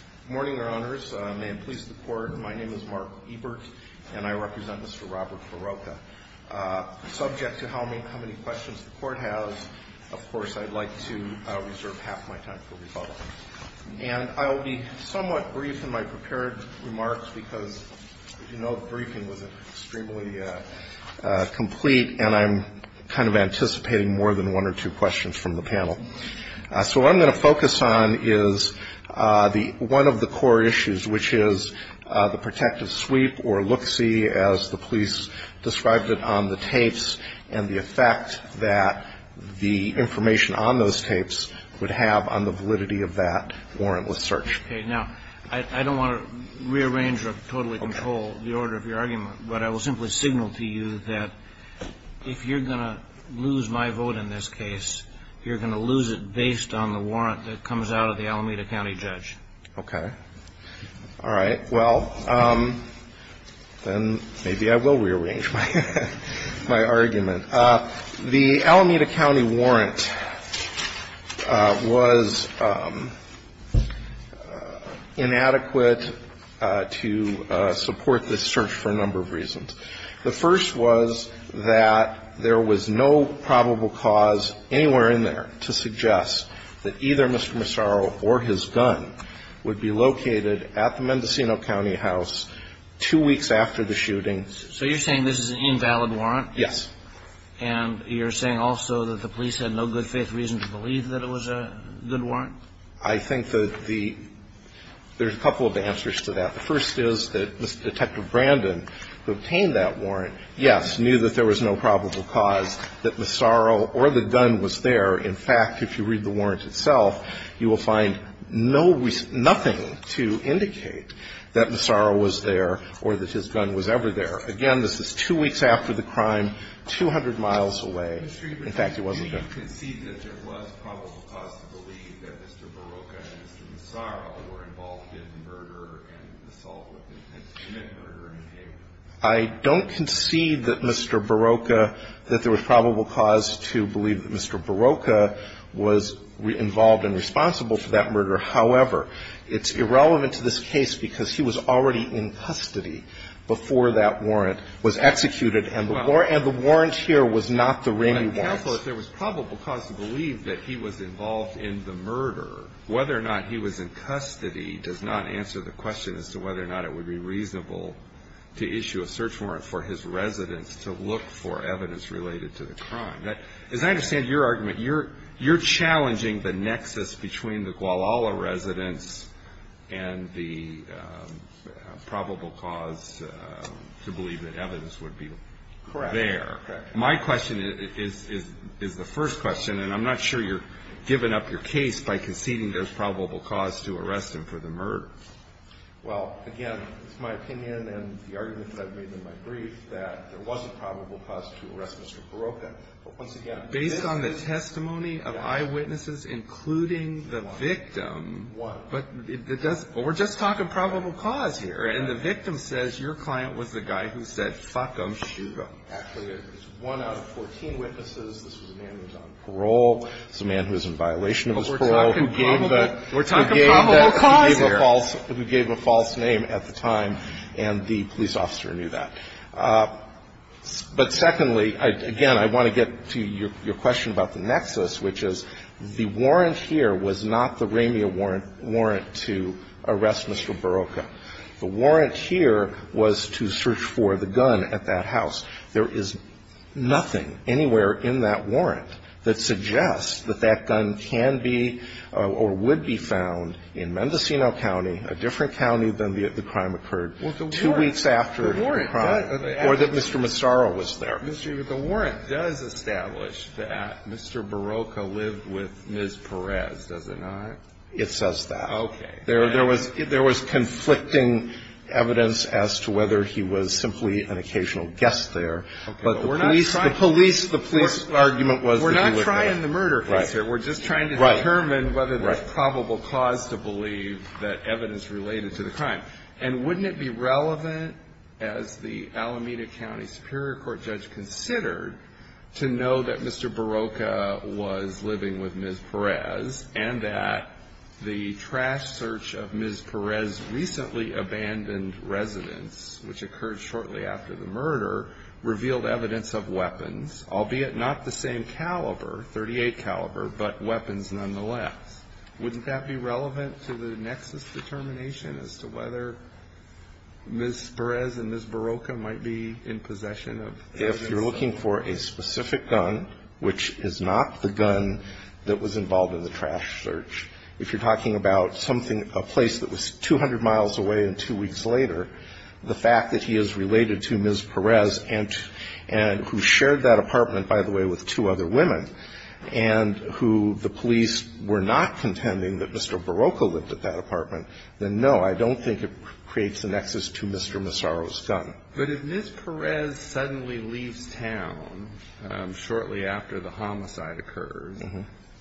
Good morning, Your Honors. May it please the Court, my name is Mark Ebert and I represent Mr. Robert Barroca. Subject to how many questions the Court has, of course, I'd like to reserve half my time for rebuttal. And I will be somewhat brief in my prepared remarks because, as you know, the briefing was extremely complete and I'm kind of anticipating more than one or two questions from the panel. So what I'm going to focus on is the one of the core issues, which is the protective sweep or look-see, as the police described it, on the tapes and the effect that the information on those tapes would have on the validity of that warrantless search. Okay. Now, I don't want to rearrange or totally control the order of your argument, but I will simply signal to you that if you're going to lose my vote in this case, you're going to lose it based on the warrant that comes out of the Alameda County judge. Okay. All right. Well, then maybe I will rearrange my argument. The Alameda County warrant was inadequate to support this search for a number of reasons. The first was that there was no probable cause anywhere in there to suggest that either Mr. Massaro or his gun would be located at the Mendocino County house two weeks after the shooting. So you're saying this is an invalid warrant? Yes. And you're saying also that the police had no good faith reason to believe that it was a good warrant? I think that the – there's a couple of answers to that. The first is that Mr. Detective Brandon, who obtained that warrant, yes, knew that there was no probable cause that Massaro or the gun was there. In fact, if you read the warrant itself, you will find no – nothing to indicate that Massaro was there or that his gun was ever there. Again, this is two weeks after the crime, 200 miles away. In fact, it wasn't there. Mr. Ebert, do you concede that there was probable cause to believe that Mr. Barocca and Mr. Massaro were involved in murder and assault with intent to commit murder? I don't concede that Mr. Barocca – that there was probable cause to believe that Mr. Barocca was involved and responsible for that murder. However, it's irrelevant to this case because he was already in custody before that warrant was executed. And the warrant here was not the ring he wants. Well, I'm careful that there was probable cause to believe that he was involved in the murder. Whether or not he was in custody does not answer the question as to whether or not it would be reasonable to issue a search warrant for his residence to look for evidence related to the crime. As I understand your argument, you're challenging the nexus between the Guadalajara residence and the probable cause to believe that evidence would be there. Correct. My question is the first question, and I'm not sure you're giving up your case by conceding there's probable cause to arrest him for the murder. Well, again, it's my opinion and the arguments I've made in my brief that there was a probable cause to arrest Mr. Barocca. But once again, this is – Based on the testimony of eyewitnesses, including the victim – One. One. But it does – we're just talking probable cause here. And the victim says your client was the guy who said, fuck him, shoot him. Actually, it was one out of 14 witnesses. This was a man who was on parole. This was a man who was in violation of his parole. But we're talking probable – we're talking probable cause here. False – who gave a false name at the time, and the police officer knew that. But secondly, again, I want to get to your question about the nexus, which is the warrant here was not the Ramia warrant to arrest Mr. Barocca. The warrant here was to search for the gun at that house. There is nothing anywhere in that warrant that suggests that that gun can be or would be found in Mendocino County, a different county than the crime occurred, two weeks after the crime or that Mr. Mastaro was there. The warrant does establish that Mr. Barocca lived with Ms. Perez, does it not? It says that. Okay. There was conflicting evidence as to whether he was simply an occasional guest there. But the police – the police argument was that he was there. We're not trying the murder case here. Right. We're just trying to determine whether there's probable cause to believe that evidence related to the crime. And wouldn't it be relevant, as the Alameda County Superior Court judge considered, to know that Mr. Barocca was living with Ms. Perez and that the trash search of Ms. Perez's recently abandoned residence, which occurred shortly after the murder, revealed evidence of weapons, albeit not the same caliber, .38 caliber, but weapons nonetheless. Wouldn't that be relevant to the nexus determination as to whether Ms. Perez and Ms. Barocca might be in possession of evidence? If you're looking for a specific gun, which is not the gun that was involved in the trash search, if you're talking about something – a place that was 200 miles away and two who shared that apartment, by the way, with two other women and who the police were not contending that Mr. Barocca lived at that apartment, then no, I don't think it creates a nexus to Mr. Massaro's gun. But if Ms. Perez suddenly leaves town shortly after the homicide occurs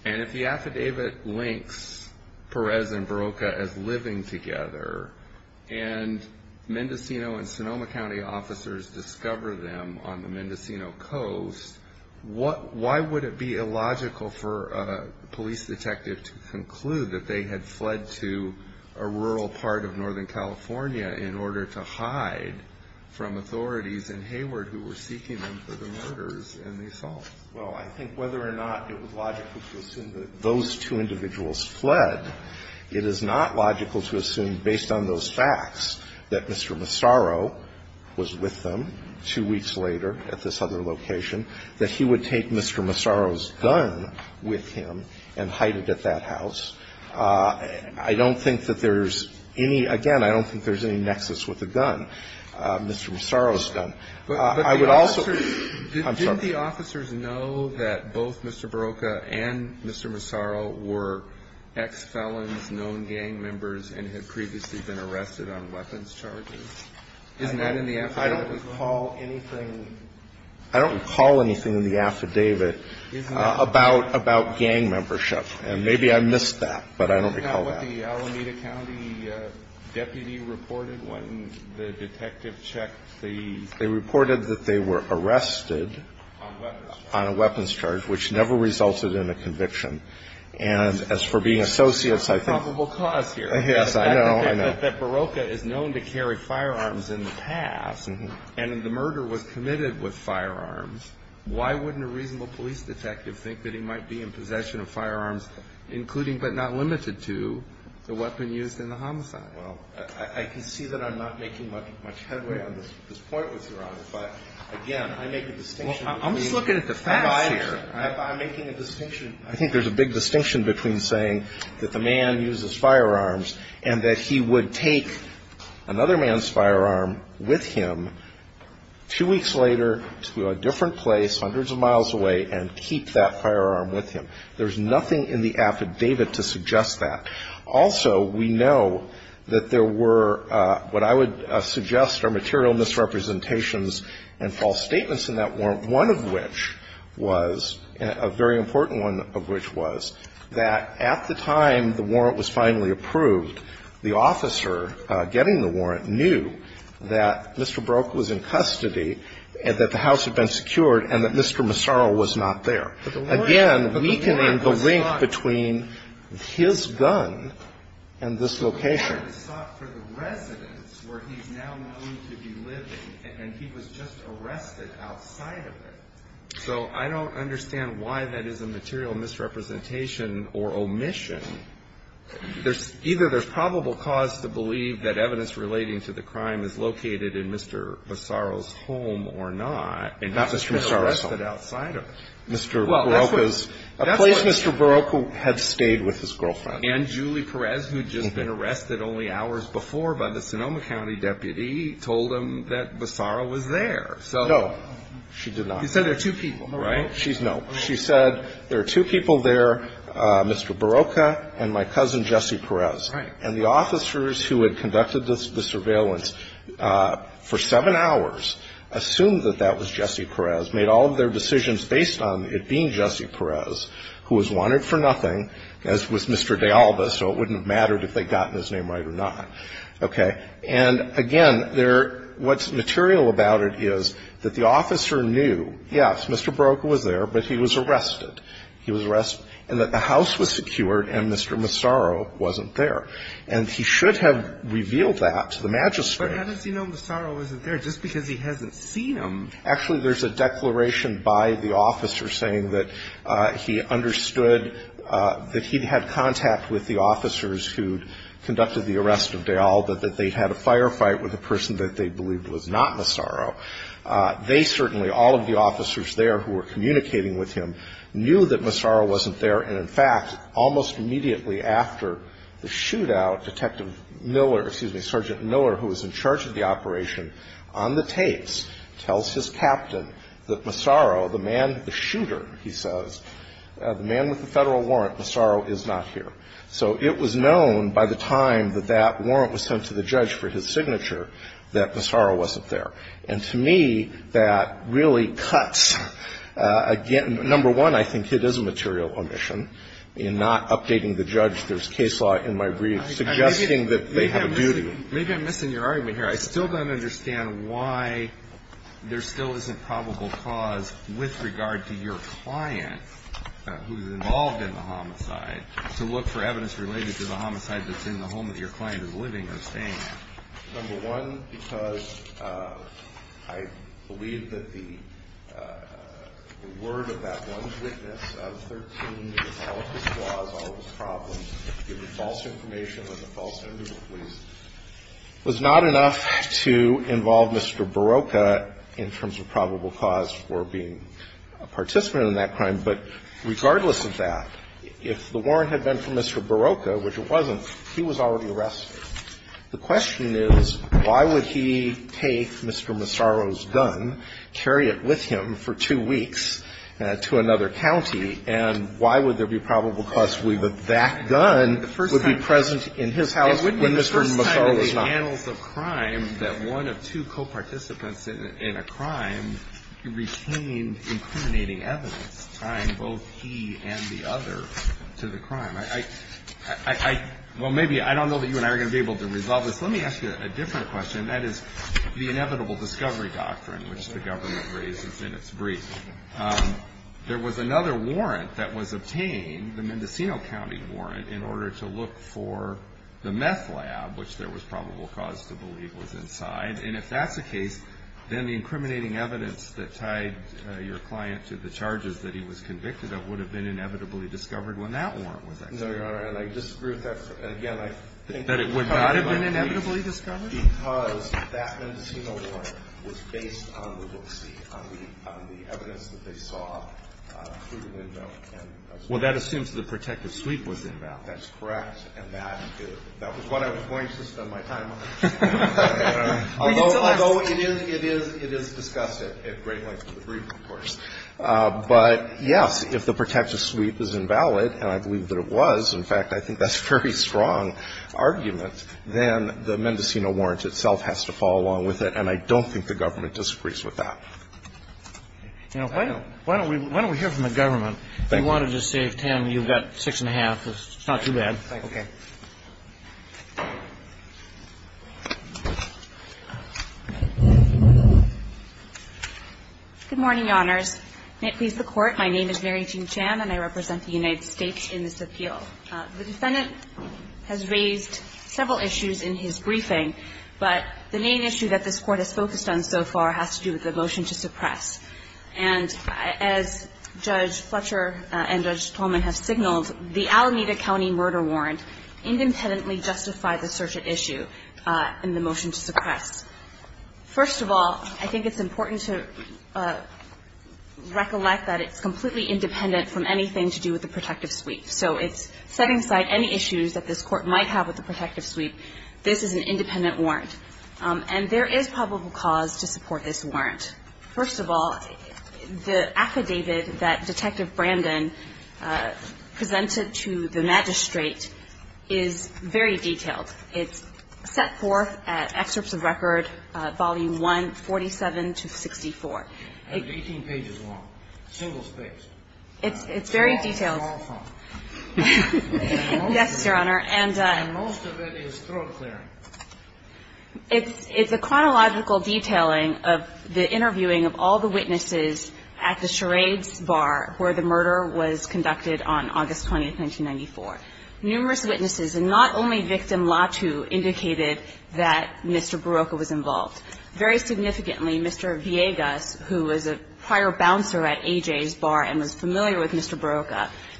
and if the affidavit links Perez and Barocca as living together and Mendocino and Sonoma County officers discover them on the Mendocino coast, why would it be illogical for a police detective to conclude that they had fled to a rural part of northern California in order to hide from authorities in Hayward who were seeking them for the murders and the assaults? Well, I think whether or not it was logical to assume that those two individuals fled, it is not logical to assume, based on those facts, that Mr. Massaro was with them two weeks later at this other location, that he would take Mr. Massaro's gun with him and hide it at that house. I don't think that there's any – again, I don't think there's any nexus with the gun, Mr. Massaro's gun. I would also – But the officers – I'm sorry. Did the officers know that both Mr. Barocca and Mr. Massaro were ex-felons, known gang members, and had previously been arrested on weapons charges? Isn't that in the affidavit as well? I don't recall anything – I don't recall anything in the affidavit about gang membership. And maybe I missed that, but I don't recall that. Isn't that what the Alameda County deputy reported when the detective checked the – They reported that they were arrested on a weapons charge, which never resulted in a conviction. And as for being associates, I think – That's a probable cause here. Yes, I know. I think that Barocca is known to carry firearms in the past, and if the murder was committed with firearms, why wouldn't a reasonable police detective think that he might be in possession of firearms, including, but not limited to, the weapon used in the homicide? Well, I can see that I'm not making much headway on this point with Your Honor, but again, I make a distinction between – Well, I'm just looking at the facts here. I'm making a distinction. I think there's a big distinction between saying that the man uses firearms and that he would take another man's firearm with him two weeks later to a different place hundreds of miles away and keep that firearm with him. There's nothing in the affidavit to suggest that. Also, we know that there were what I would suggest are material misrepresentations and false statements in that warrant, one of which was – a very important one of which was that at the time the warrant was finally approved, the officer getting the warrant knew that Mr. Barocca was in custody and that the house had been secured and that Mr. Massaro was not there. Again, weakening the link between his gun and this location. The warrant is sought for the residence where he's now known to be living, and he was just arrested outside of it. So I don't understand why that is a material misrepresentation or omission. Either there's probable cause to believe that evidence relating to the crime is located in Mr. Massaro's home or not, and he's just been arrested outside of it. Mr. Barocca's – Well, that's what – A place Mr. Barocca had stayed with his girlfriend. And Julie Perez, who'd just been arrested only hours before by the Sonoma County deputy, told him that Massaro was there. So – No, she did not. You said there are two people, right? She's – no. She said there are two people there, Mr. Barocca and my cousin Jesse Perez. Right. And the officers who had conducted the surveillance for seven hours assumed that that was Jesse Perez, made all of their decisions based on it being Jesse Perez, who was wanted for nothing, as was Mr. De Alba, so it wouldn't have mattered if they'd gotten his name right or not. Okay. And, again, there – what's material about it is that the officer knew, yes, Mr. Barocca was there, but he was arrested. He was arrested, and that the house was secured and Mr. Massaro wasn't there. And he should have revealed that to the magistrate. But how does he know Massaro wasn't there just because he hasn't seen him? Actually, there's a declaration by the officer saying that he understood that he'd had contact with the officers who'd conducted the arrest of De Alba, that they'd had a firefight with a person that they believed was not Massaro. They certainly, all of the officers there who were communicating with him, knew that Massaro wasn't there. And, in fact, almost immediately after the shootout, Detective Miller – the guy with the tapes – tells his captain that Massaro, the man – the shooter, he says, the man with the Federal warrant, Massaro is not here. So it was known by the time that that warrant was sent to the judge for his signature that Massaro wasn't there. And to me, that really cuts, again, number one, I think it is a material omission in not updating the judge. There's case law in my brief suggesting that they have a duty. Maybe I'm missing your argument here. I still don't understand why there still isn't probable cause with regard to your client who's involved in the homicide to look for evidence related to the homicide that's in the home that your client is living or staying in. Number one, because I believe that the word of that one witness of 13, with all of his flaws, all of his problems, was not enough to involve Mr. Barocca in terms of probable cause for being a participant in that crime. But regardless of that, if the warrant had been for Mr. Barocca, which it wasn't, he was already arrested. The question is, why would he take Mr. Massaro's gun, carry it with him for two weeks to another county, and why would there be probable cause to leave with that gun would be present in his house when Mr. Massaro was not? It wouldn't be the first time in the annals of crime that one of two co-participants in a crime retained incriminating evidence tying both he and the other to the crime. I don't know that you and I are going to be able to resolve this. Let me ask you a different question, and that is the inevitable discovery doctrine, which the government raises in its brief. There was another warrant that was obtained, the Mendocino County warrant, in order to look for the meth lab, which there was probable cause to believe was inside. And if that's the case, then the incriminating evidence that tied your client to the charges that he was convicted of would have been inevitably discovered when that warrant was executed. No, Your Honor, and I disagree with that. Again, I think that it would not have been inevitably discovered. Because that Mendocino warrant was based on the look-see, on the evidence that they saw through the window. Well, that assumes the protective sweep was invalid. That's correct. And that was what I was going to spend my time on. Although it is discussed at great length in the brief, of course. But, yes, if the protective sweep is invalid, and I believe that it was. In fact, I think that's a very strong argument. Then the Mendocino warrant itself has to fall along with it, and I don't think the government disagrees with that. Now, why don't we hear from the government? Thank you. We wanted to see if, Tam, you've got six and a half. It's not too bad. Okay. Good morning, Your Honors. May it please the Court, my name is Mary Jean Chan, and I represent the United States Department of Justice. The defendant has raised several issues in his briefing, but the main issue that this Court has focused on so far has to do with the motion to suppress. And as Judge Fletcher and Judge Tolman have signaled, the Alameda County murder warrant independently justified the search at issue in the motion to suppress. First of all, I think it's important to recollect that it's completely independent from anything to do with the protective sweep. So it's setting aside any issues that this Court might have with the protective sweep, this is an independent warrant. And there is probable cause to support this warrant. First of all, the affidavit that Detective Brandon presented to the magistrate is very detailed. It's set forth at Excerpts of Record, Volume 1, 47 to 64. It's 18 pages long, single-spaced. It's very detailed. Yes, Your Honor. And most of it is throat clearing. It's a chronological detailing of the interviewing of all the witnesses at the charades bar where the murder was conducted on August 20, 1994. Numerous witnesses, and not only victim Latu, indicated that Mr. Barocca was involved. Very significantly, Mr. Villegas, who was a prior bouncer at A.J.'s bar and was involved,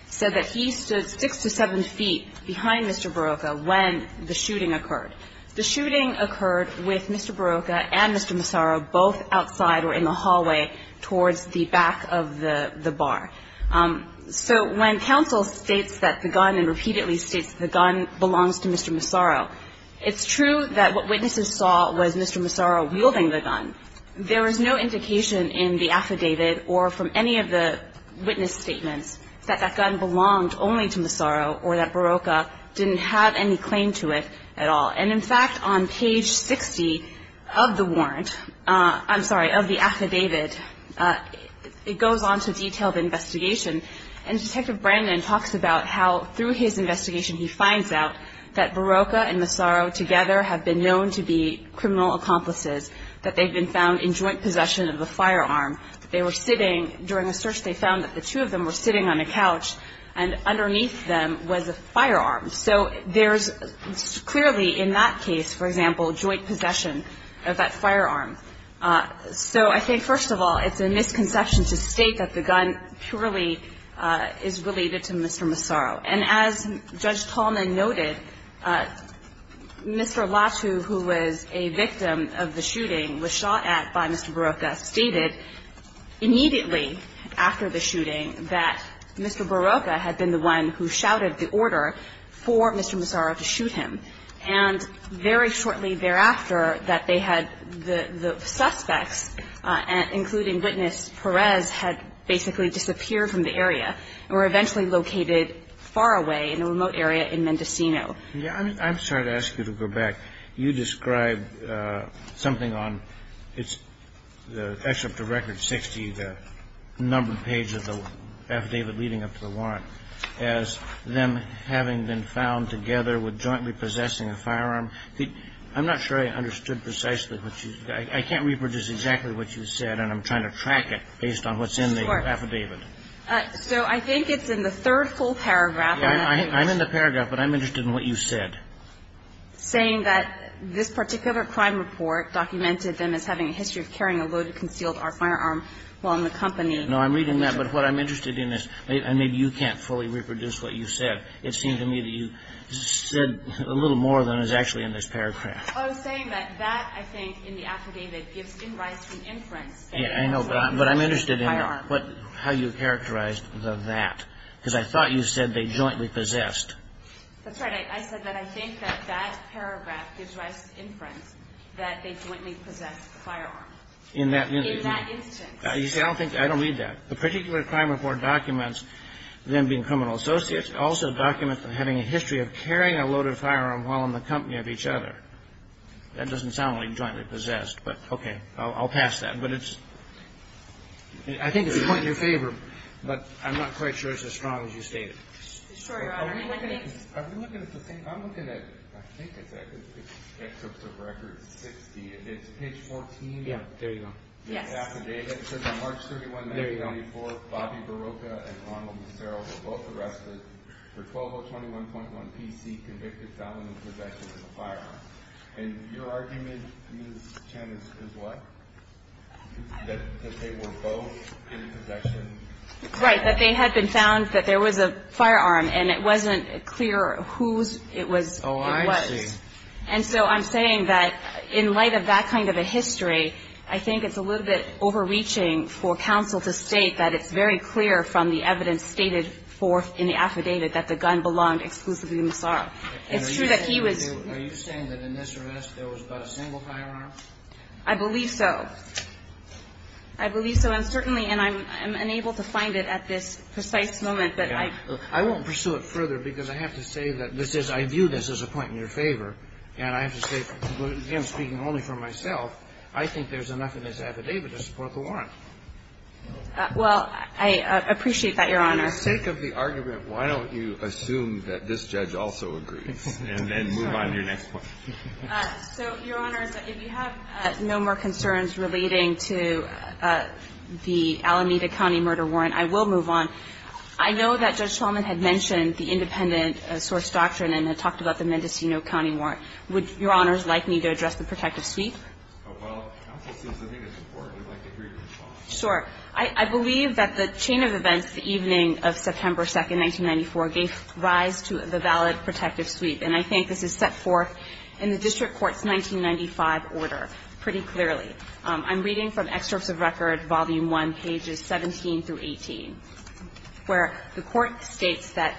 said that he stood six to seven feet behind Mr. Barocca when the shooting occurred. The shooting occurred with Mr. Barocca and Mr. Massaro both outside or in the hallway towards the back of the bar. So when counsel states that the gun and repeatedly states the gun belongs to Mr. Massaro, it's true that what witnesses saw was Mr. Massaro wielding the gun. There was no indication in the affidavit or from any of the witness statements that that gun belonged only to Massaro or that Barocca didn't have any claim to it at all. And, in fact, on page 60 of the warrant, I'm sorry, of the affidavit, it goes on to detailed investigation, and Detective Brandon talks about how through his investigation he finds out that Barocca and Massaro together have been known to be criminal accomplices, that they've been found in joint possession of a firearm. They were sitting during a search. They found that the two of them were sitting on a couch, and underneath them was a firearm. So there's clearly in that case, for example, joint possession of that firearm. So I think, first of all, it's a misconception to state that the gun purely is related to Mr. Massaro. And as Judge Tallman noted, Mr. Latu, who was a victim of the shooting, was shot at by Mr. Barocca, stated immediately after the shooting that Mr. Barocca had been the one who shouted the order for Mr. Massaro to shoot him. And very shortly thereafter that they had the suspects, including witness Perez, had basically disappeared from the area and were eventually located far away in a remote area in Mendocino. Yeah. I'm sorry to ask you to go back. You described something on the excerpt of Record 60, the numbered page of the affidavit leading up to the warrant, as them having been found together with jointly possessing a firearm. I'm not sure I understood precisely what you said. I can't reproduce exactly what you said, and I'm trying to track it based on what's in the affidavit. Of course. So I think it's in the third full paragraph. I'm in the paragraph, but I'm interested in what you said. Saying that this particular crime report documented them as having a history of carrying a loaded, concealed R firearm while in the company. No, I'm reading that, but what I'm interested in is, and maybe you can't fully reproduce what you said. It seemed to me that you said a little more than is actually in this paragraph. I was saying that that, I think, in the affidavit gives in rice an inference that they jointly possessed a firearm. But I'm interested in how you characterized the that, because I thought you said they jointly possessed. That's right. I said that I think that that paragraph gives rice an inference that they jointly possessed a firearm. In that instance. You see, I don't think, I don't read that. The particular crime report documents them being criminal associates. It also documents them having a history of carrying a loaded firearm while in the company of each other. That doesn't sound like jointly possessed. But, okay. I'll pass that. But it's, I think it's a point in your favor, but I'm not quite sure it's as strong as you stated. I'm looking at, I think it's excerpts of record 60. It's page 14. Yeah. There you go. Yes. The affidavit. It says on March 31, 1994, Bobby Barocca and Ronald Macero were both arrested for 12021.1 APC convicted felon in possession of a firearm. And your argument, Ms. Chen, is what? That they were both in possession? Right. That they had been found that there was a firearm and it wasn't clear whose it was. Oh, I see. It was. And so I'm saying that in light of that kind of a history, I think it's a little bit overreaching for counsel to state that it's very clear from the evidence stated forth in the affidavit that the gun belonged exclusively to Macero. And are you saying that in this arrest there was but a single firearm? I believe so. I believe so. And certainly, and I'm unable to find it at this precise moment. I won't pursue it further because I have to say that this is, I view this as a point in your favor. And I have to say, again, speaking only for myself, I think there's enough in this affidavit to support the warrant. Well, I appreciate that, Your Honor. And for the sake of the argument, why don't you assume that this judge also agrees and then move on to your next point? So, Your Honors, if you have no more concerns relating to the Alameda County murder warrant, I will move on. I know that Judge Shulman had mentioned the independent source doctrine and had talked about the Mendocino County warrant. Would Your Honors like me to address the protective suite? Well, counsel, since I think it's important, I'd like to hear your response. Sure. I believe that the chain of events the evening of September 2, 1994, gave rise to the valid protective suite. And I think this is set forth in the district court's 1995 order pretty clearly. I'm reading from Excerpts of Record, Volume 1, pages 17 through 18, where the court states that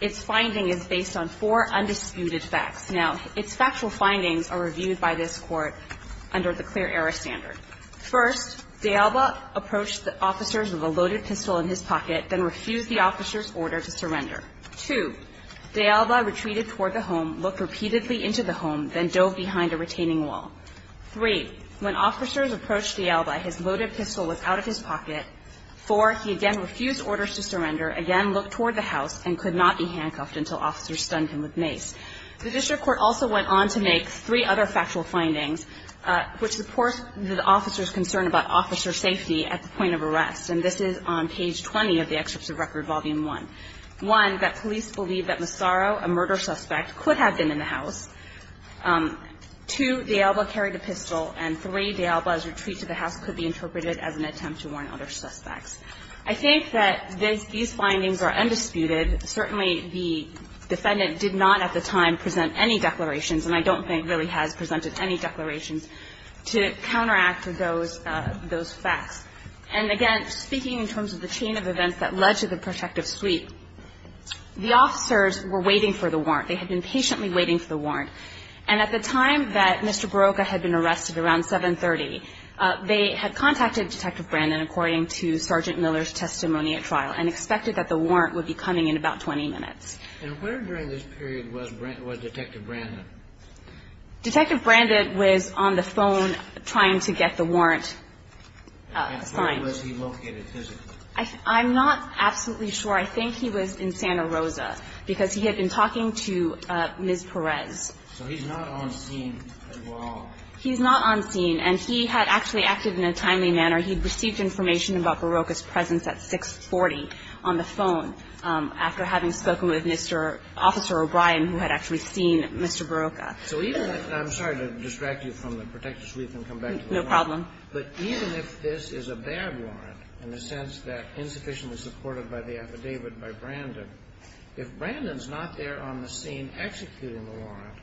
its finding is based on four undisputed facts. Now, its factual findings are reviewed by this Court under the clear error standard. First, D'Alba approached the officers with a loaded pistol in his pocket, then refused the officers' order to surrender. Two, D'Alba retreated toward the home, looked repeatedly into the home, then dove behind a retaining wall. Three, when officers approached D'Alba, his loaded pistol was out of his pocket. Four, he again refused orders to surrender, again looked toward the house, and could not be handcuffed until officers stunned him with mace. The district court also went on to make three other factual findings, which support the officers' concern about officer safety at the point of arrest. And this is on page 20 of the Excerpts of Record, Volume 1. One, that police believe that Massaro, a murder suspect, could have been in the house. Two, D'Alba carried a pistol. And three, D'Alba's retreat to the house could be interpreted as an attempt to warn other suspects. I think that these findings are undisputed. Certainly, the defendant did not at the time present any declarations, and I don't think really has presented any declarations, to counteract those facts. And again, speaking in terms of the chain of events that led to the protective sweep, the officers were waiting for the warrant. They had been patiently waiting for the warrant. And at the time that Mr. Barocca had been arrested, around 7.30, they had contacted Detective Brandon, according to Sergeant Miller's testimony at trial, and expected that the warrant would be coming in about 20 minutes. And where during this period was Detective Brandon? Detective Brandon was on the phone trying to get the warrant signed. And where was he located physically? I'm not absolutely sure. I think he was in Santa Rosa, because he had been talking to Ms. Perez. So he's not on scene at all? He's not on scene, and he had actually acted in a timely manner. He had received information about Barocca's presence at 6.40 on the phone, after having spoken with Mr. Officer O'Brien, who had actually seen Mr. Barocca. So even if the ---- I'm sorry to distract you from the protective sweep and come back to the warrant. No problem. But even if this is a bad warrant, in the sense that insufficiently supported by the affidavit by Brandon, if Brandon's not there on the scene executing the warrant,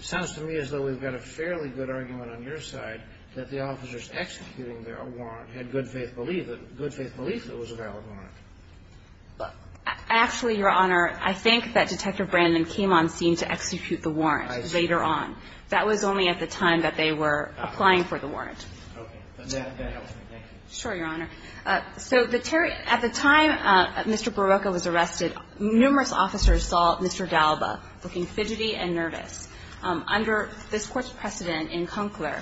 it sounds to me as though we've got a fairly good argument on your side that the officers executing the warrant had good faith belief that it was a valid warrant. Actually, Your Honor, I think that Detective Brandon came on scene to execute the warrant later on. I see. That was only at the time that they were applying for the warrant. Okay. That helps me. Thank you. Sure, Your Honor. So at the time Mr. Barocca was arrested, numerous officers saw Mr. D'Alba looking fidgety and nervous. Under this Court's precedent in Conkler,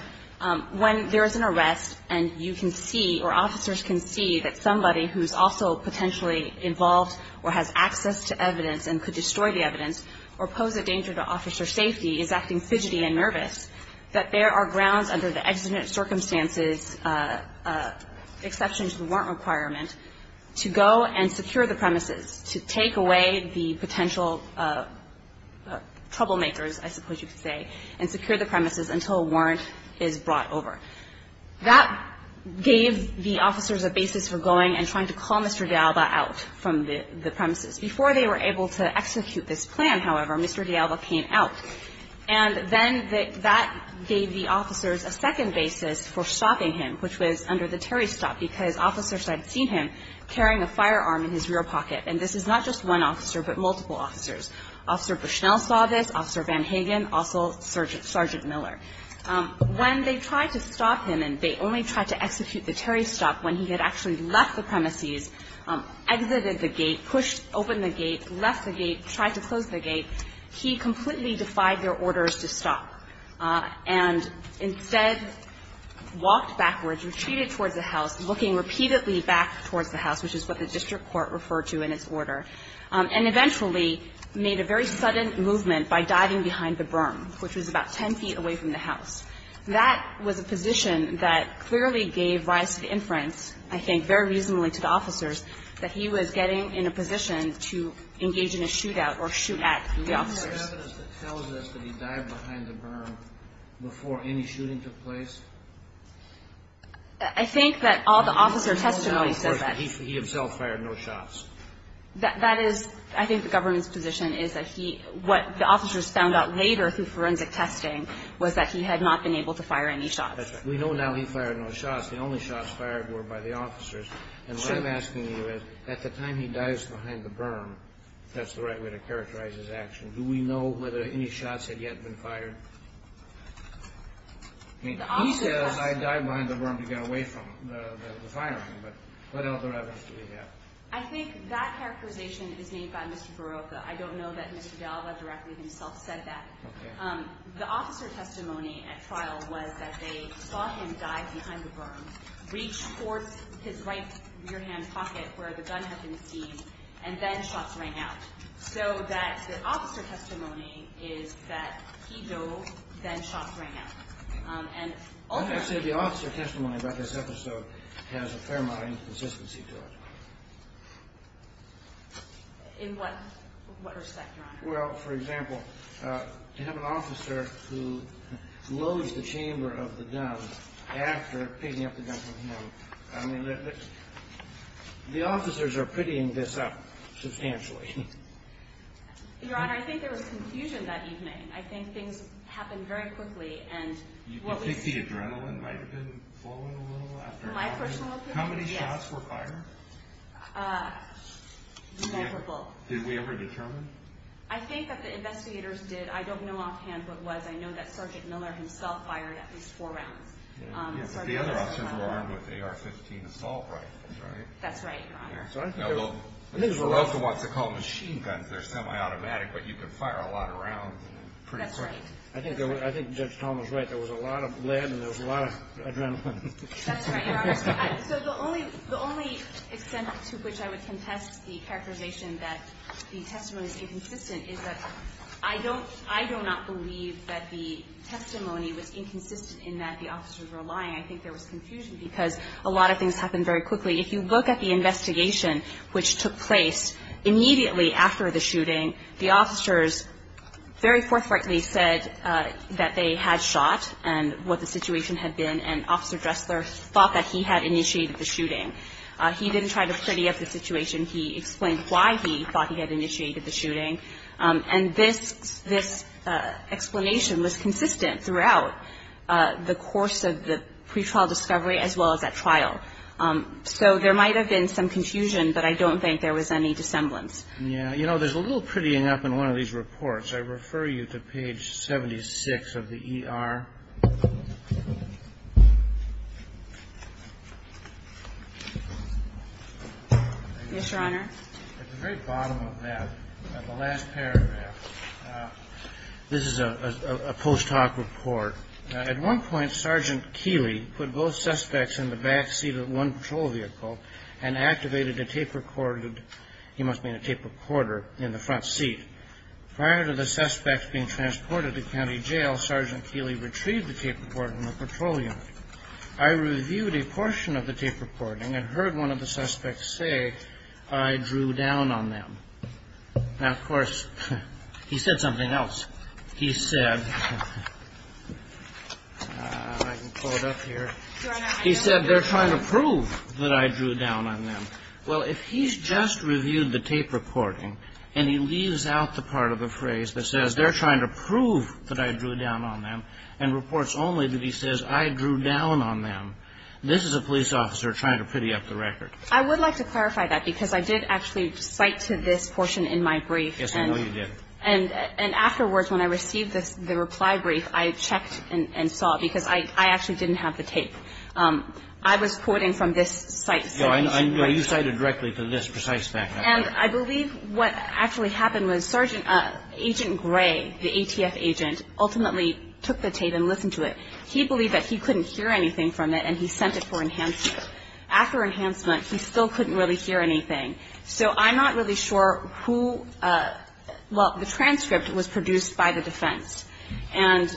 when there is an arrest and you can see or officers can see that somebody who is also potentially involved or has access to evidence and could destroy the evidence or pose a danger to officer safety is acting fidgety and nervous, that there are grounds under the exigent circumstances exception to the warrant requirement to go and secure the premises, to take away the potential troublemakers, I suppose you could say, and secure the premises until a warrant is brought over. That gave the officers a basis for going and trying to call Mr. D'Alba out from the premises. Before they were able to execute this plan, however, Mr. D'Alba came out. And then that gave the officers a second basis for stopping him, which was under the Terry stop, because officers had seen him carrying a firearm in his rear pocket. And this is not just one officer, but multiple officers. Officer Bushnell saw this. Officer Van Hagen. Also Sergeant Miller. When they tried to stop him, and they only tried to execute the Terry stop when he had actually left the premises, exited the gate, pushed open the gate, left the gate, tried to close the gate, he completely defied their orders to stop and instead walked backwards, retreated towards the house, looking repeatedly back towards the house, which is what the district court referred to in its order, and eventually made a very sudden movement by diving behind the berm, which was about ten feet away from the house. That was a position that clearly gave rise to the inference, I think very reasonably to the officers, that he was getting in a position to engage in a shootout or shoot at the officers. Do we have evidence that tells us that he dived behind the berm before any shooting took place? I think that all the officer testimony says that. He himself fired no shots. That is, I think the government's position is that he, what the officers found out later through forensic testing was that he had not been able to fire any shots. That's right. We know now he fired no shots. The only shots fired were by the officers. And what I'm asking you is, at the time he dives behind the berm, if that's the right way to characterize his action, do we know whether any shots had yet been fired? I mean, he says, I dived behind the berm to get away from the firing, but what other evidence do we have? I think that characterization is made by Mr. Barocca. I don't know that Mr. Dalva directly himself said that. Okay. The officer testimony at trial was that they saw him dive behind the berm, reach towards his right rear-hand pocket where the gun had been seized, and then shots rang out. So that the officer testimony is that he dove, then shots rang out. And ultimately... I'm going to say the officer testimony about this episode has a fair amount of inconsistency to it. In what respect, Your Honor? Well, for example, to have an officer who loads the chamber of the gun after picking up the gun from him, I mean, the officers are pitying this up substantially. Your Honor, I think there was confusion that evening. I think things happened very quickly, and what we... Do you think the adrenaline might have been flowing a little after that? My personal opinion, yes. How many shots were fired? Multiple. Did we ever determine? I think that the investigators did. I don't know offhand what was. I know that Sergeant Miller himself fired at least four rounds. Yes, but the other officers were armed with AR-15 assault rifles, right? That's right, Your Honor. So I think there was... Well, if someone wants to call them machine guns, they're semi-automatic, but you can fire a lot of rounds pretty quick. That's right. I think Judge Tom was right. There was a lot of lead and there was a lot of adrenaline. That's right, Your Honor. So the only extent to which I would contest the characterization that the testimony is inconsistent is that I don't not believe that the testimony was inconsistent in that the officers were lying. I think there was confusion because a lot of things happened very quickly. If you look at the investigation, which took place immediately after the shooting, the officers very forthrightly said that they had shot and what the situation had been, and Officer Dressler thought that he had initiated the shooting. He didn't try to pretty up the situation. He explained why he thought he had initiated the shooting, and this explanation was consistent throughout the course of the pretrial discovery as well as at trial. So there might have been some confusion, but I don't think there was any dissemblance. Yeah. You know, there's a little prettying up in one of these reports. I refer you to page 76 of the ER. Yes, Your Honor. At the very bottom of that, the last paragraph, this is a post hoc report. At one point, Sergeant Keeley put both suspects in the back seat of one patrol vehicle and activated a tape recorder. He must have been a tape recorder in the front seat. Prior to the suspects being transported to county jail, Sergeant Keeley retrieved the tape recorder from the patrol unit. I reviewed a portion of the tape recording and heard one of the suspects say, I drew down on them. Now, of course, he said something else. He said, I can pull it up here. He said, they're trying to prove that I drew down on them. Well, if he's just reviewed the tape recording and he leaves out the part of the phrase that says they're trying to prove that I drew down on them and reports only that he says I drew down on them, this is a police officer trying to pretty up the record. I would like to clarify that because I did actually cite to this portion in my brief. Yes, I know you did. And afterwards, when I received the reply brief, I checked and saw because I actually didn't have the tape. I was quoting from this citation. No, you cited directly to this precise fact. And I believe what actually happened was Agent Gray, the ATF agent, ultimately took the tape and listened to it. He believed that he couldn't hear anything from it, and he sent it for enhancement. After enhancement, he still couldn't really hear anything. So I'm not really sure who – well, the transcript was produced by the defense. And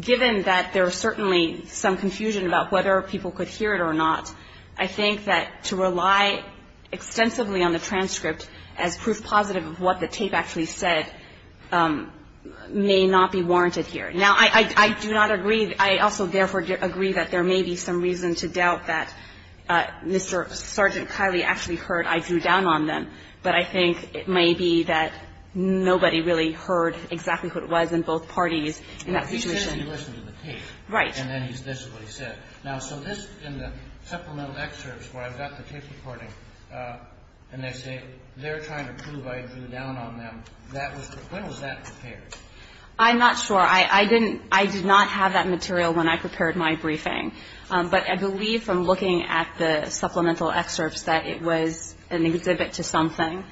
given that there was certainly some confusion about whether people could hear it or not, I think that to rely extensively on the transcript as proof positive of what the tape actually said may not be warranted here. Now, I do not agree. I also, therefore, agree that there may be some reason to doubt that Mr. Sergeant Kiley actually heard I drew down on them. But I think it may be that nobody really heard exactly what it was in both parties in that situation. He says he listened to the tape. Right. And then he says this is what he said. Now, so this – in the supplemental excerpts where I've got the tape recording and they say they're trying to prove I drew down on them, that was – when was that prepared? I'm not sure. I didn't – I did not have that material when I prepared my briefing. But I believe from looking at the supplemental excerpts that it was an exhibit to something.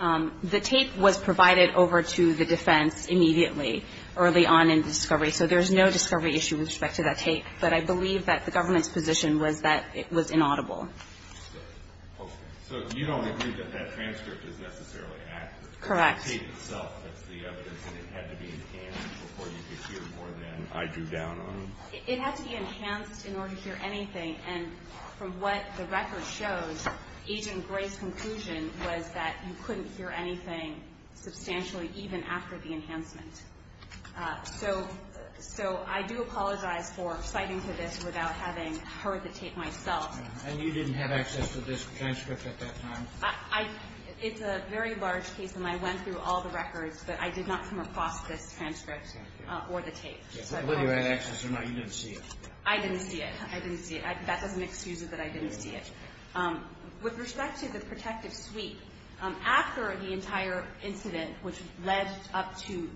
The tape was provided over to the defense immediately, early on in the discovery. So there's no discovery issue with respect to that tape. But I believe that the government's position was that it was inaudible. Okay. So you don't agree that that transcript is necessarily accurate? Correct. The tape itself, that's the evidence. And it had to be enhanced before you could hear more than I drew down on them? It had to be enhanced in order to hear anything. And from what the record shows, Agent Gray's conclusion was that you couldn't hear anything substantially even after the enhancement. So I do apologize for citing to this without having heard the tape myself. And you didn't have access to this transcript at that time? I – it's a very large case, and I went through all the records, but I did not come across this transcript or the tape. Whether you had access or not, you didn't see it. I didn't see it. I didn't see it. That doesn't excuse it that I didn't see it. With respect to the protective suite, after the entire incident which led up to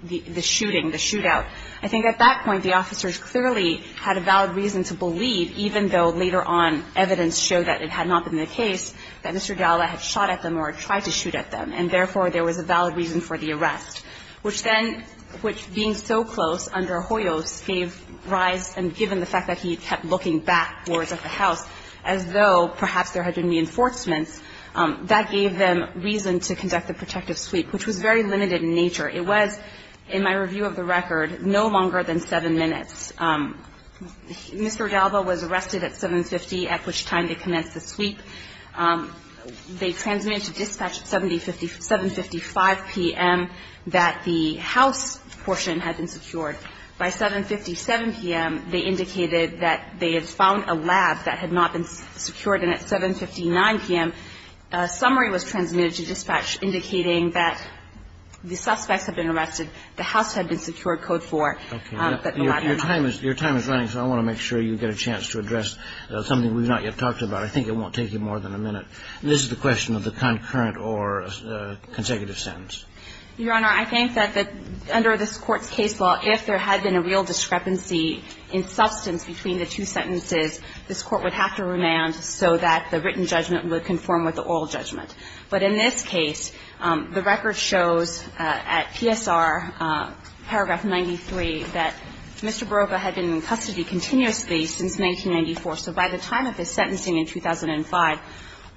the shooting, the shootout, I think at that point the officers clearly had a valid reason to believe, even though later on evidence showed that it had not been the case, that Mr. Dalla had shot at them or tried to shoot at them, and therefore there was a valid reason for the arrest, which then, which being so close under Hoyos gave rise, and given the fact that he kept looking backwards at the house as though perhaps there had been reinforcements, that gave them reason to conduct the protective suite, which was very limited in nature. It was, in my review of the record, no longer than seven minutes. Mr. Dalla was arrested at 7.50 at which time they commenced the suite. They transmitted to dispatch at 7.55 p.m. that the house portion had been secured. By 7.57 p.m., they indicated that they had found a lab that had not been secured, and at 7.59 p.m., a summary was transmitted to dispatch indicating that the suspects had been arrested, the house had been secured, Code 4. Your time is running, so I want to make sure you get a chance to address something we've not yet talked about. I think it won't take you more than a minute. And this is the question of the concurrent or consecutive sentence. Your Honor, I think that under this Court's case law, if there had been a real discrepancy in substance between the two sentences, this Court would have to remand so that the written judgment would conform with the oral judgment. But in this case, the record shows at PSR, paragraph 93, that Mr. Barova had been in custody continuously since 1994. So by the time of his sentencing in 2005,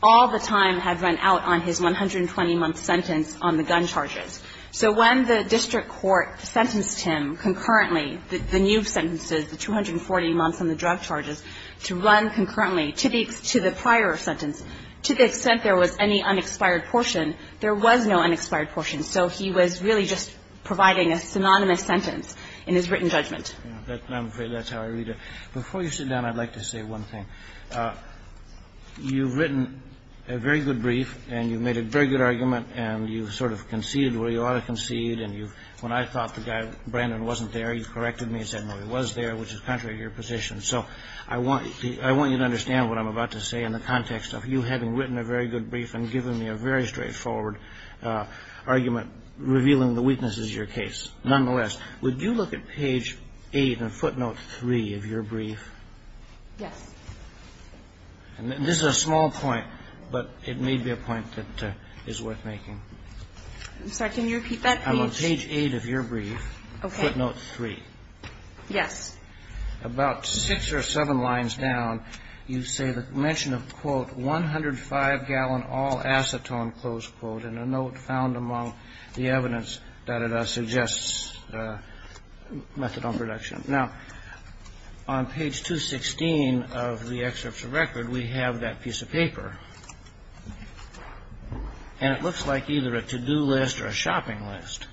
all the time had run out on his 120-month sentence on the gun charges. So when the district court sentenced him concurrently, the new sentences, the 240 months on the drug charges, to run concurrently to the prior sentence, to the extent there was any unexpired portion, there was no unexpired portion. So he was really just providing a synonymous sentence in his written judgment. I'm afraid that's how I read it. Before you sit down, I'd like to say one thing. You've written a very good brief, and you've made a very good argument, and you've sort of conceded where you ought to concede. And when I thought the guy, Brandon, wasn't there, you corrected me and said, no, he was there, which is contrary to your position. So I want you to understand what I'm about to say in the context of you having written a very good brief and given me a very straightforward argument revealing the weaknesses of your case. Nonetheless, would you look at page 8 in footnote 3 of your brief? Yes. And this is a small point, but it may be a point that is worth making. I'm sorry. Can you repeat that page? On page 8 of your brief, footnote 3. Yes. About six or seven lines down, you say the mention of, quote, methadone production. Now, on page 216 of the excerpt of record, we have that piece of paper. And it looks like either a to-do list or a shopping list.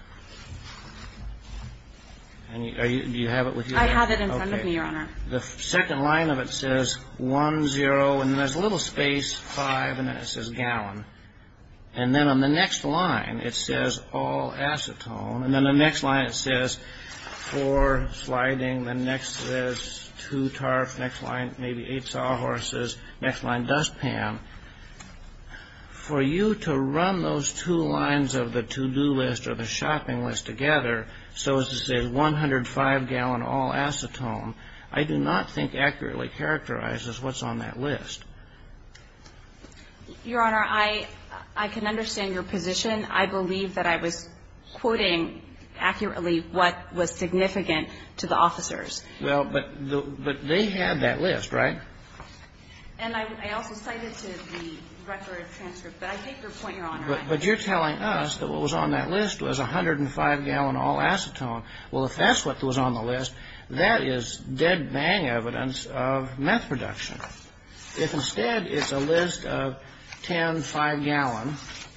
Do you have it with you? I have it in front of me, Your Honor. The second line of it says 1-0, and then there's a little space, 5, and then it says gallon. And then on the next line, it says all acetone. And then the next line, it says four sliding. The next says two tarps. Next line, maybe eight sawhorses. Next line, dustpan. For you to run those two lines of the to-do list or the shopping list together, so as to say 105-gallon all acetone, I do not think accurately characterizes what's on that list. Your Honor, I can understand your position. I believe that I was quoting accurately what was significant to the officers. Well, but they had that list, right? And I also cited to the record transcript. But I hate your point, Your Honor. But you're telling us that what was on that list was 105-gallon all acetone. Well, if that's what was on the list, that is dead-bang evidence of meth production. If instead it's a list of 10 5-gallon,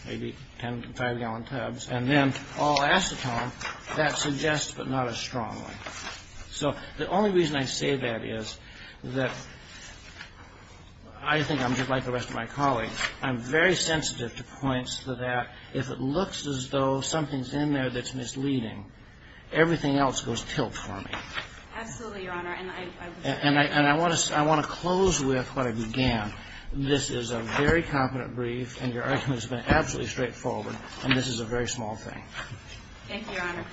maybe 10 5-gallon tubs, and then all acetone, that suggests but not as strongly. So the only reason I say that is that I think I'm just like the rest of my colleagues. I'm very sensitive to points that if it looks as though something's in there that's misleading, everything else goes tilt for me. Absolutely, Your Honor. And I want to close with what I began. This is a very competent brief, and your argument has been absolutely straightforward, and this is a very small thing. Thank you, Your Honor.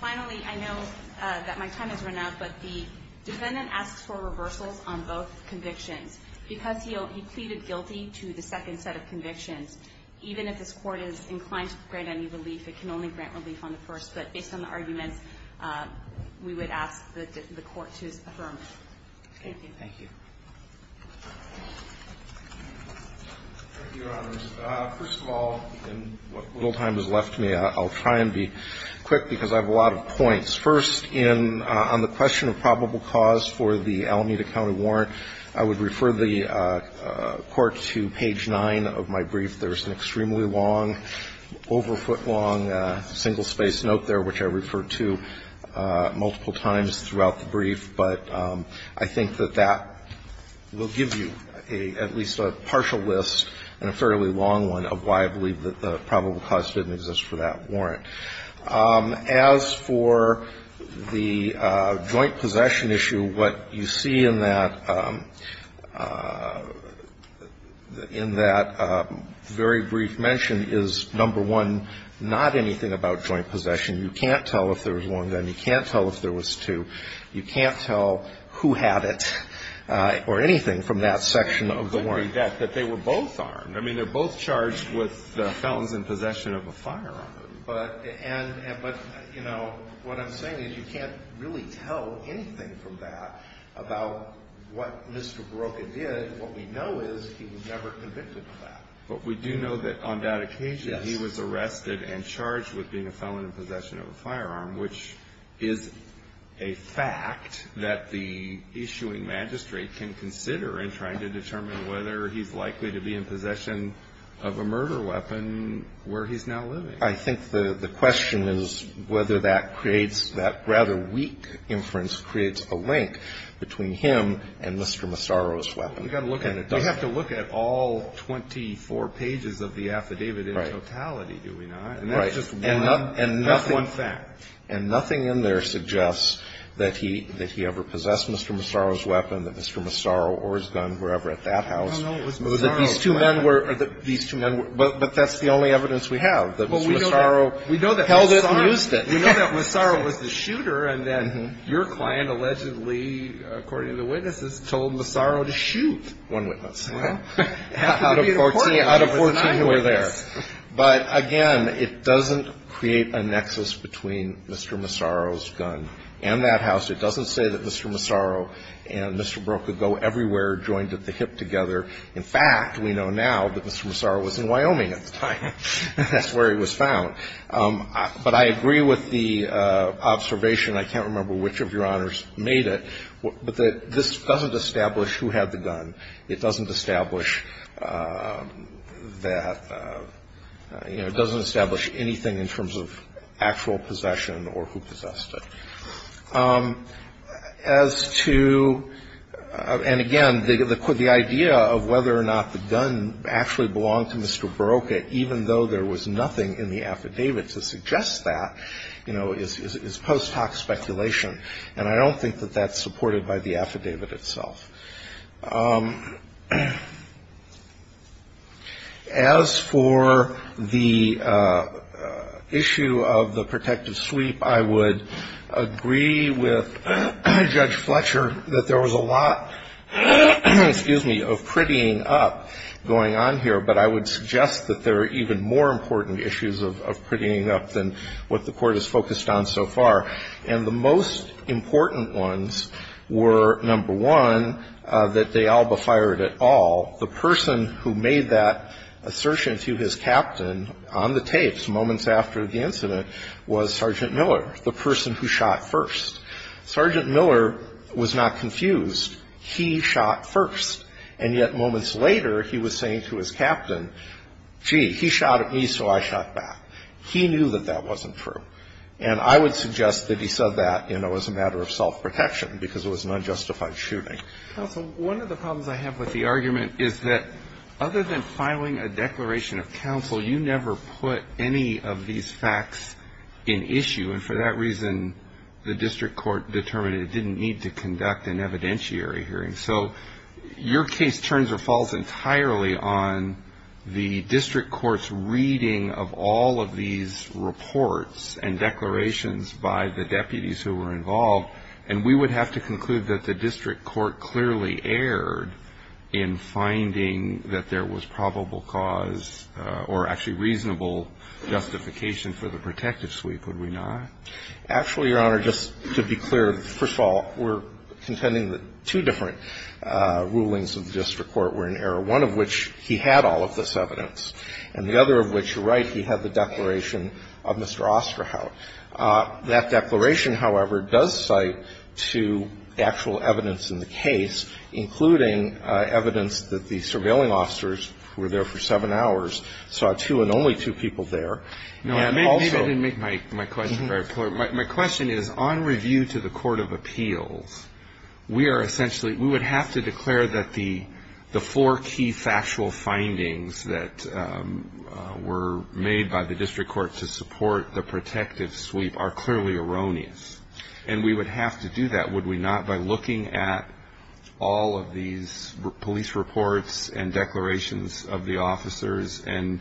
Finally, I know that my time has run out, but the defendant asks for reversals on both convictions. Because he pleaded guilty to the second set of convictions, even if this Court is inclined to grant any relief, it can only grant relief on the first. But based on the arguments, we would ask that the Court to affirm. Thank you. Thank you. Thank you, Your Honors. First of all, in what little time is left to me, I'll try and be quick because I have a lot of points. First, on the question of probable cause for the Alameda County warrant, I would refer the Court to page 9 of my brief. There's an extremely long, over-foot-long, single-space note there, which I refer to multiple times throughout the brief. But I think that that will give you at least a partial list and a fairly long one of why I believe that the probable cause didn't exist for that warrant. As for the joint possession issue, what you see in that, in that brief is that the very brief mention is, number one, not anything about joint possession. You can't tell if there was one then. You can't tell if there was two. You can't tell who had it or anything from that section of the warrant. It would be that, that they were both armed. I mean, they're both charged with the felons in possession of a firearm. But, you know, what I'm saying is you can't really tell anything from that about what Mr. Barocca did. What we know is he was never convicted of that. But we do know that on that occasion he was arrested and charged with being a felon in possession of a firearm, which is a fact that the issuing magistrate can consider in trying to determine whether he's likely to be in possession of a murder weapon where he's now living. I think the question is whether that creates that rather weak inference creates a link between him and Mr. Massaro's weapon. We've got to look at it. We've got to look at it. We've got to look at it and see if we can find anything that suggests that. We can't. We can't say that. We can't say that. We can't say that. We can't say that. Can't say that. And that's one fact. And nothing in there suggests that he ever possessed Mr. Massaro's weapon, that Mr. Massaro or his gun were ever at that house. No, no, it was Massaro's weapon. These two men were. These two men were. But that's the only evidence we have, that Mr. Massaro held it and used it. We know that Massaro was the shooter, and then your client allegedly, according to the witnesses, told Massaro to shoot one witness. Out of 14 who were there. But, again, it doesn't create a nexus between Mr. Massaro's gun and that house. It doesn't say that Mr. Massaro and Mr. Broca go everywhere, joined at the hip together. In fact, we know now that Mr. Massaro was in Wyoming at the time. That's where he was found. But I agree with the observation, I can't remember which of your honors made it, but this doesn't establish who had the gun. It doesn't establish that, you know, it doesn't establish anything in terms of actual possession or who possessed it. As to, and again, the idea of whether or not the gun actually belonged to Mr. Broca, even though there was nothing in the affidavit to suggest that, you know, is post hoc speculation. And I don't think that that's supported by the affidavit itself. As for the issue of the protective sweep, I would agree with Judge Fletcher that there was a lot, excuse me, of prettying up going on here. But I would suggest that there are even more important issues of prettying up than what the Court has focused on so far. And the most important ones were, number one, that De Alba fired at all. The person who made that assertion to his captain on the tapes moments after the incident was Sergeant Miller, the person who shot first. Sergeant Miller was not confused. He shot first. And yet moments later, he was saying to his captain, gee, he shot at me, so I shot back. He knew that that wasn't true. And I would suggest that he said that, you know, as a matter of self-protection, because it was an unjustified shooting. Counsel, one of the problems I have with the argument is that other than filing a declaration of counsel, you never put any of these facts in issue. And for that reason, the district court determined it didn't need to conduct an evidentiary hearing. So your case turns or falls entirely on the district court's reading of all of these reports and declarations by the deputies who were involved. And we would have to conclude that the district court clearly erred in finding that there was probable cause or actually reasonable justification for the protective sweep, would we not? Actually, Your Honor, just to be clear, first of all, we're contending that two different rulings of the district court were in error, one of which he had all of this evidence, and the other of which, you're right, he had the declaration of Mr. Osterhout. That declaration, however, does cite to actual evidence in the case, including evidence that the surveilling officers who were there for seven hours saw two and only two people there. And also — No, maybe I didn't make my question very clear. My question is, on review to the court of appeals, we are essentially — we would have to declare that the four key factual findings that were made by the district court to support the protective sweep are clearly erroneous. And we would have to do that, would we not, by looking at all of these police reports and declarations of the officers and,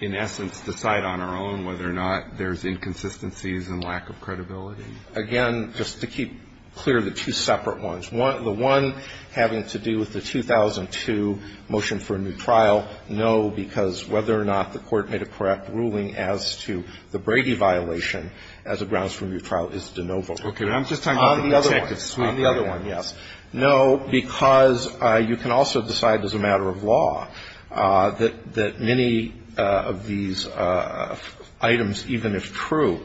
in essence, decide on our own whether or not there's inconsistencies and lack of credibility? Again, just to keep clear, the two separate ones. The one having to do with the 2002 motion for a new trial, no, because whether or not the court made a correct ruling as to the Brady violation as a grounds for a new trial is de novo. Okay. I'm just talking about the protective sweep. On the other one, yes. No, because you can also decide as a matter of law that many of these items, even if true,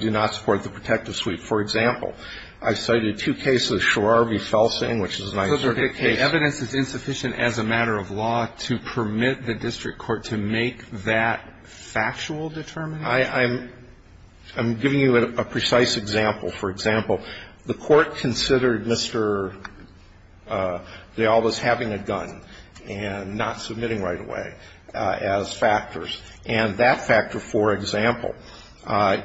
do not support the protective sweep. For example, I cited two cases, Sharar v. Felsing, which is a nice circuit case. The evidence is insufficient as a matter of law to permit the district court to make that factual determination? I'm giving you a precise example. For example, the court considered Mr. De Alva's having a gun and not submitting right away as factors, and that factor, for example,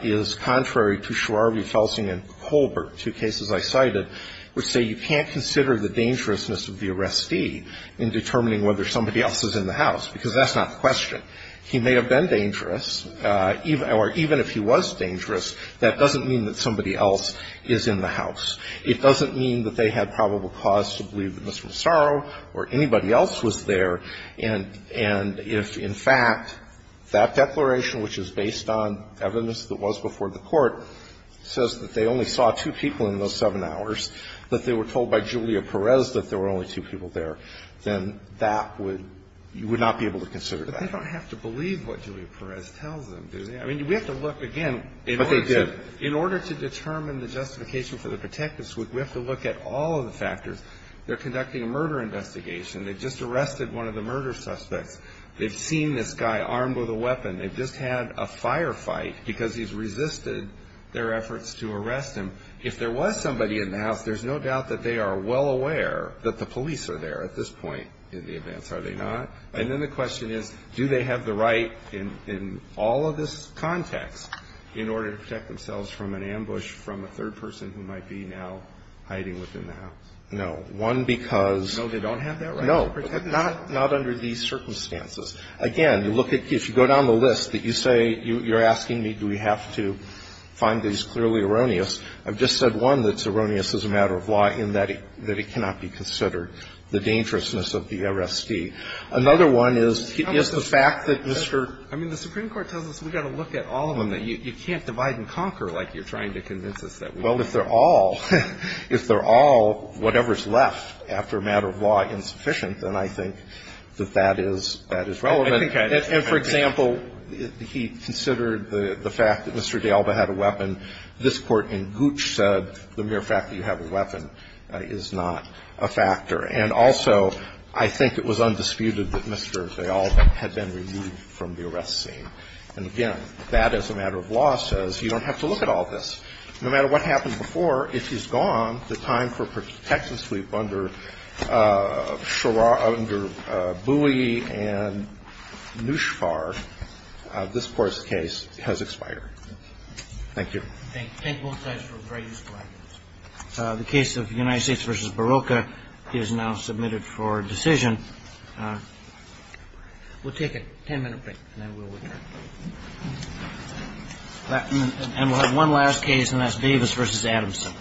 is contrary to Sharar v. Felsing and Colbert, two cases I cited, which say you can't consider the dangerousness of the arrestee in determining whether somebody else is in the house, because that's not the question. He may have been dangerous, or even if he was dangerous, that doesn't mean that somebody else is in the house. It doesn't mean that they had probable cause to believe that Mr. Massaro or anybody else was there, and if, in fact, that declaration, which is based on evidence that was before the court, says that they only saw two people in those seven hours, that they were told by Julia Perez that there were only two people there, then that would you would not be able to consider that. But they don't have to believe what Julia Perez tells them, do they? I mean, we have to look again. But they did. In order to determine the justification for the protective sweep, we have to look at all of the factors. They're conducting a murder investigation. They just arrested one of the murder suspects. They've seen this guy armed with a weapon. They've just had a firefight because he's resisted their efforts to arrest him. If there was somebody in the house, there's no doubt that they are well aware that the police are there at this point in the events, are they not? And then the question is, do they have the right in all of this context in order to protect themselves from an ambush from a third person who might be now hiding within the house? No. One, because... No, they don't have that right. No. Not under these circumstances. Again, if you go down the list that you say you're asking me do we have to find that he's clearly erroneous, I've just said one that's erroneous as a matter of law in that it cannot be considered the dangerousness of the R.S.D. Another one is the fact that Mr. ---- I mean, the Supreme Court tells us we've got to look at all of them. You can't divide and conquer like you're trying to convince us that we can. Well, if they're all, if they're all whatever's left after a matter of law insufficient, then I think that that is relevant. And for example, he considered the fact that Mr. D'Alba had a weapon. This Court in Gooch said the mere fact that you have a weapon is not a factor. And also, I think it was undisputed that Mr. D'Alba had been removed from the arrest scene. And again, that as a matter of law says you don't have to look at all this. No matter what happened before, if he's gone, the time for protection sleep under Shara, under Bui and Nushfar, this Court's case has expired. Thank you. Thank you both guys for a very useful evidence. The case of United States v. Barocca is now submitted for decision. We'll take a ten-minute break, and then we'll return. And we'll have one last case, and that's Davis v. Adamson.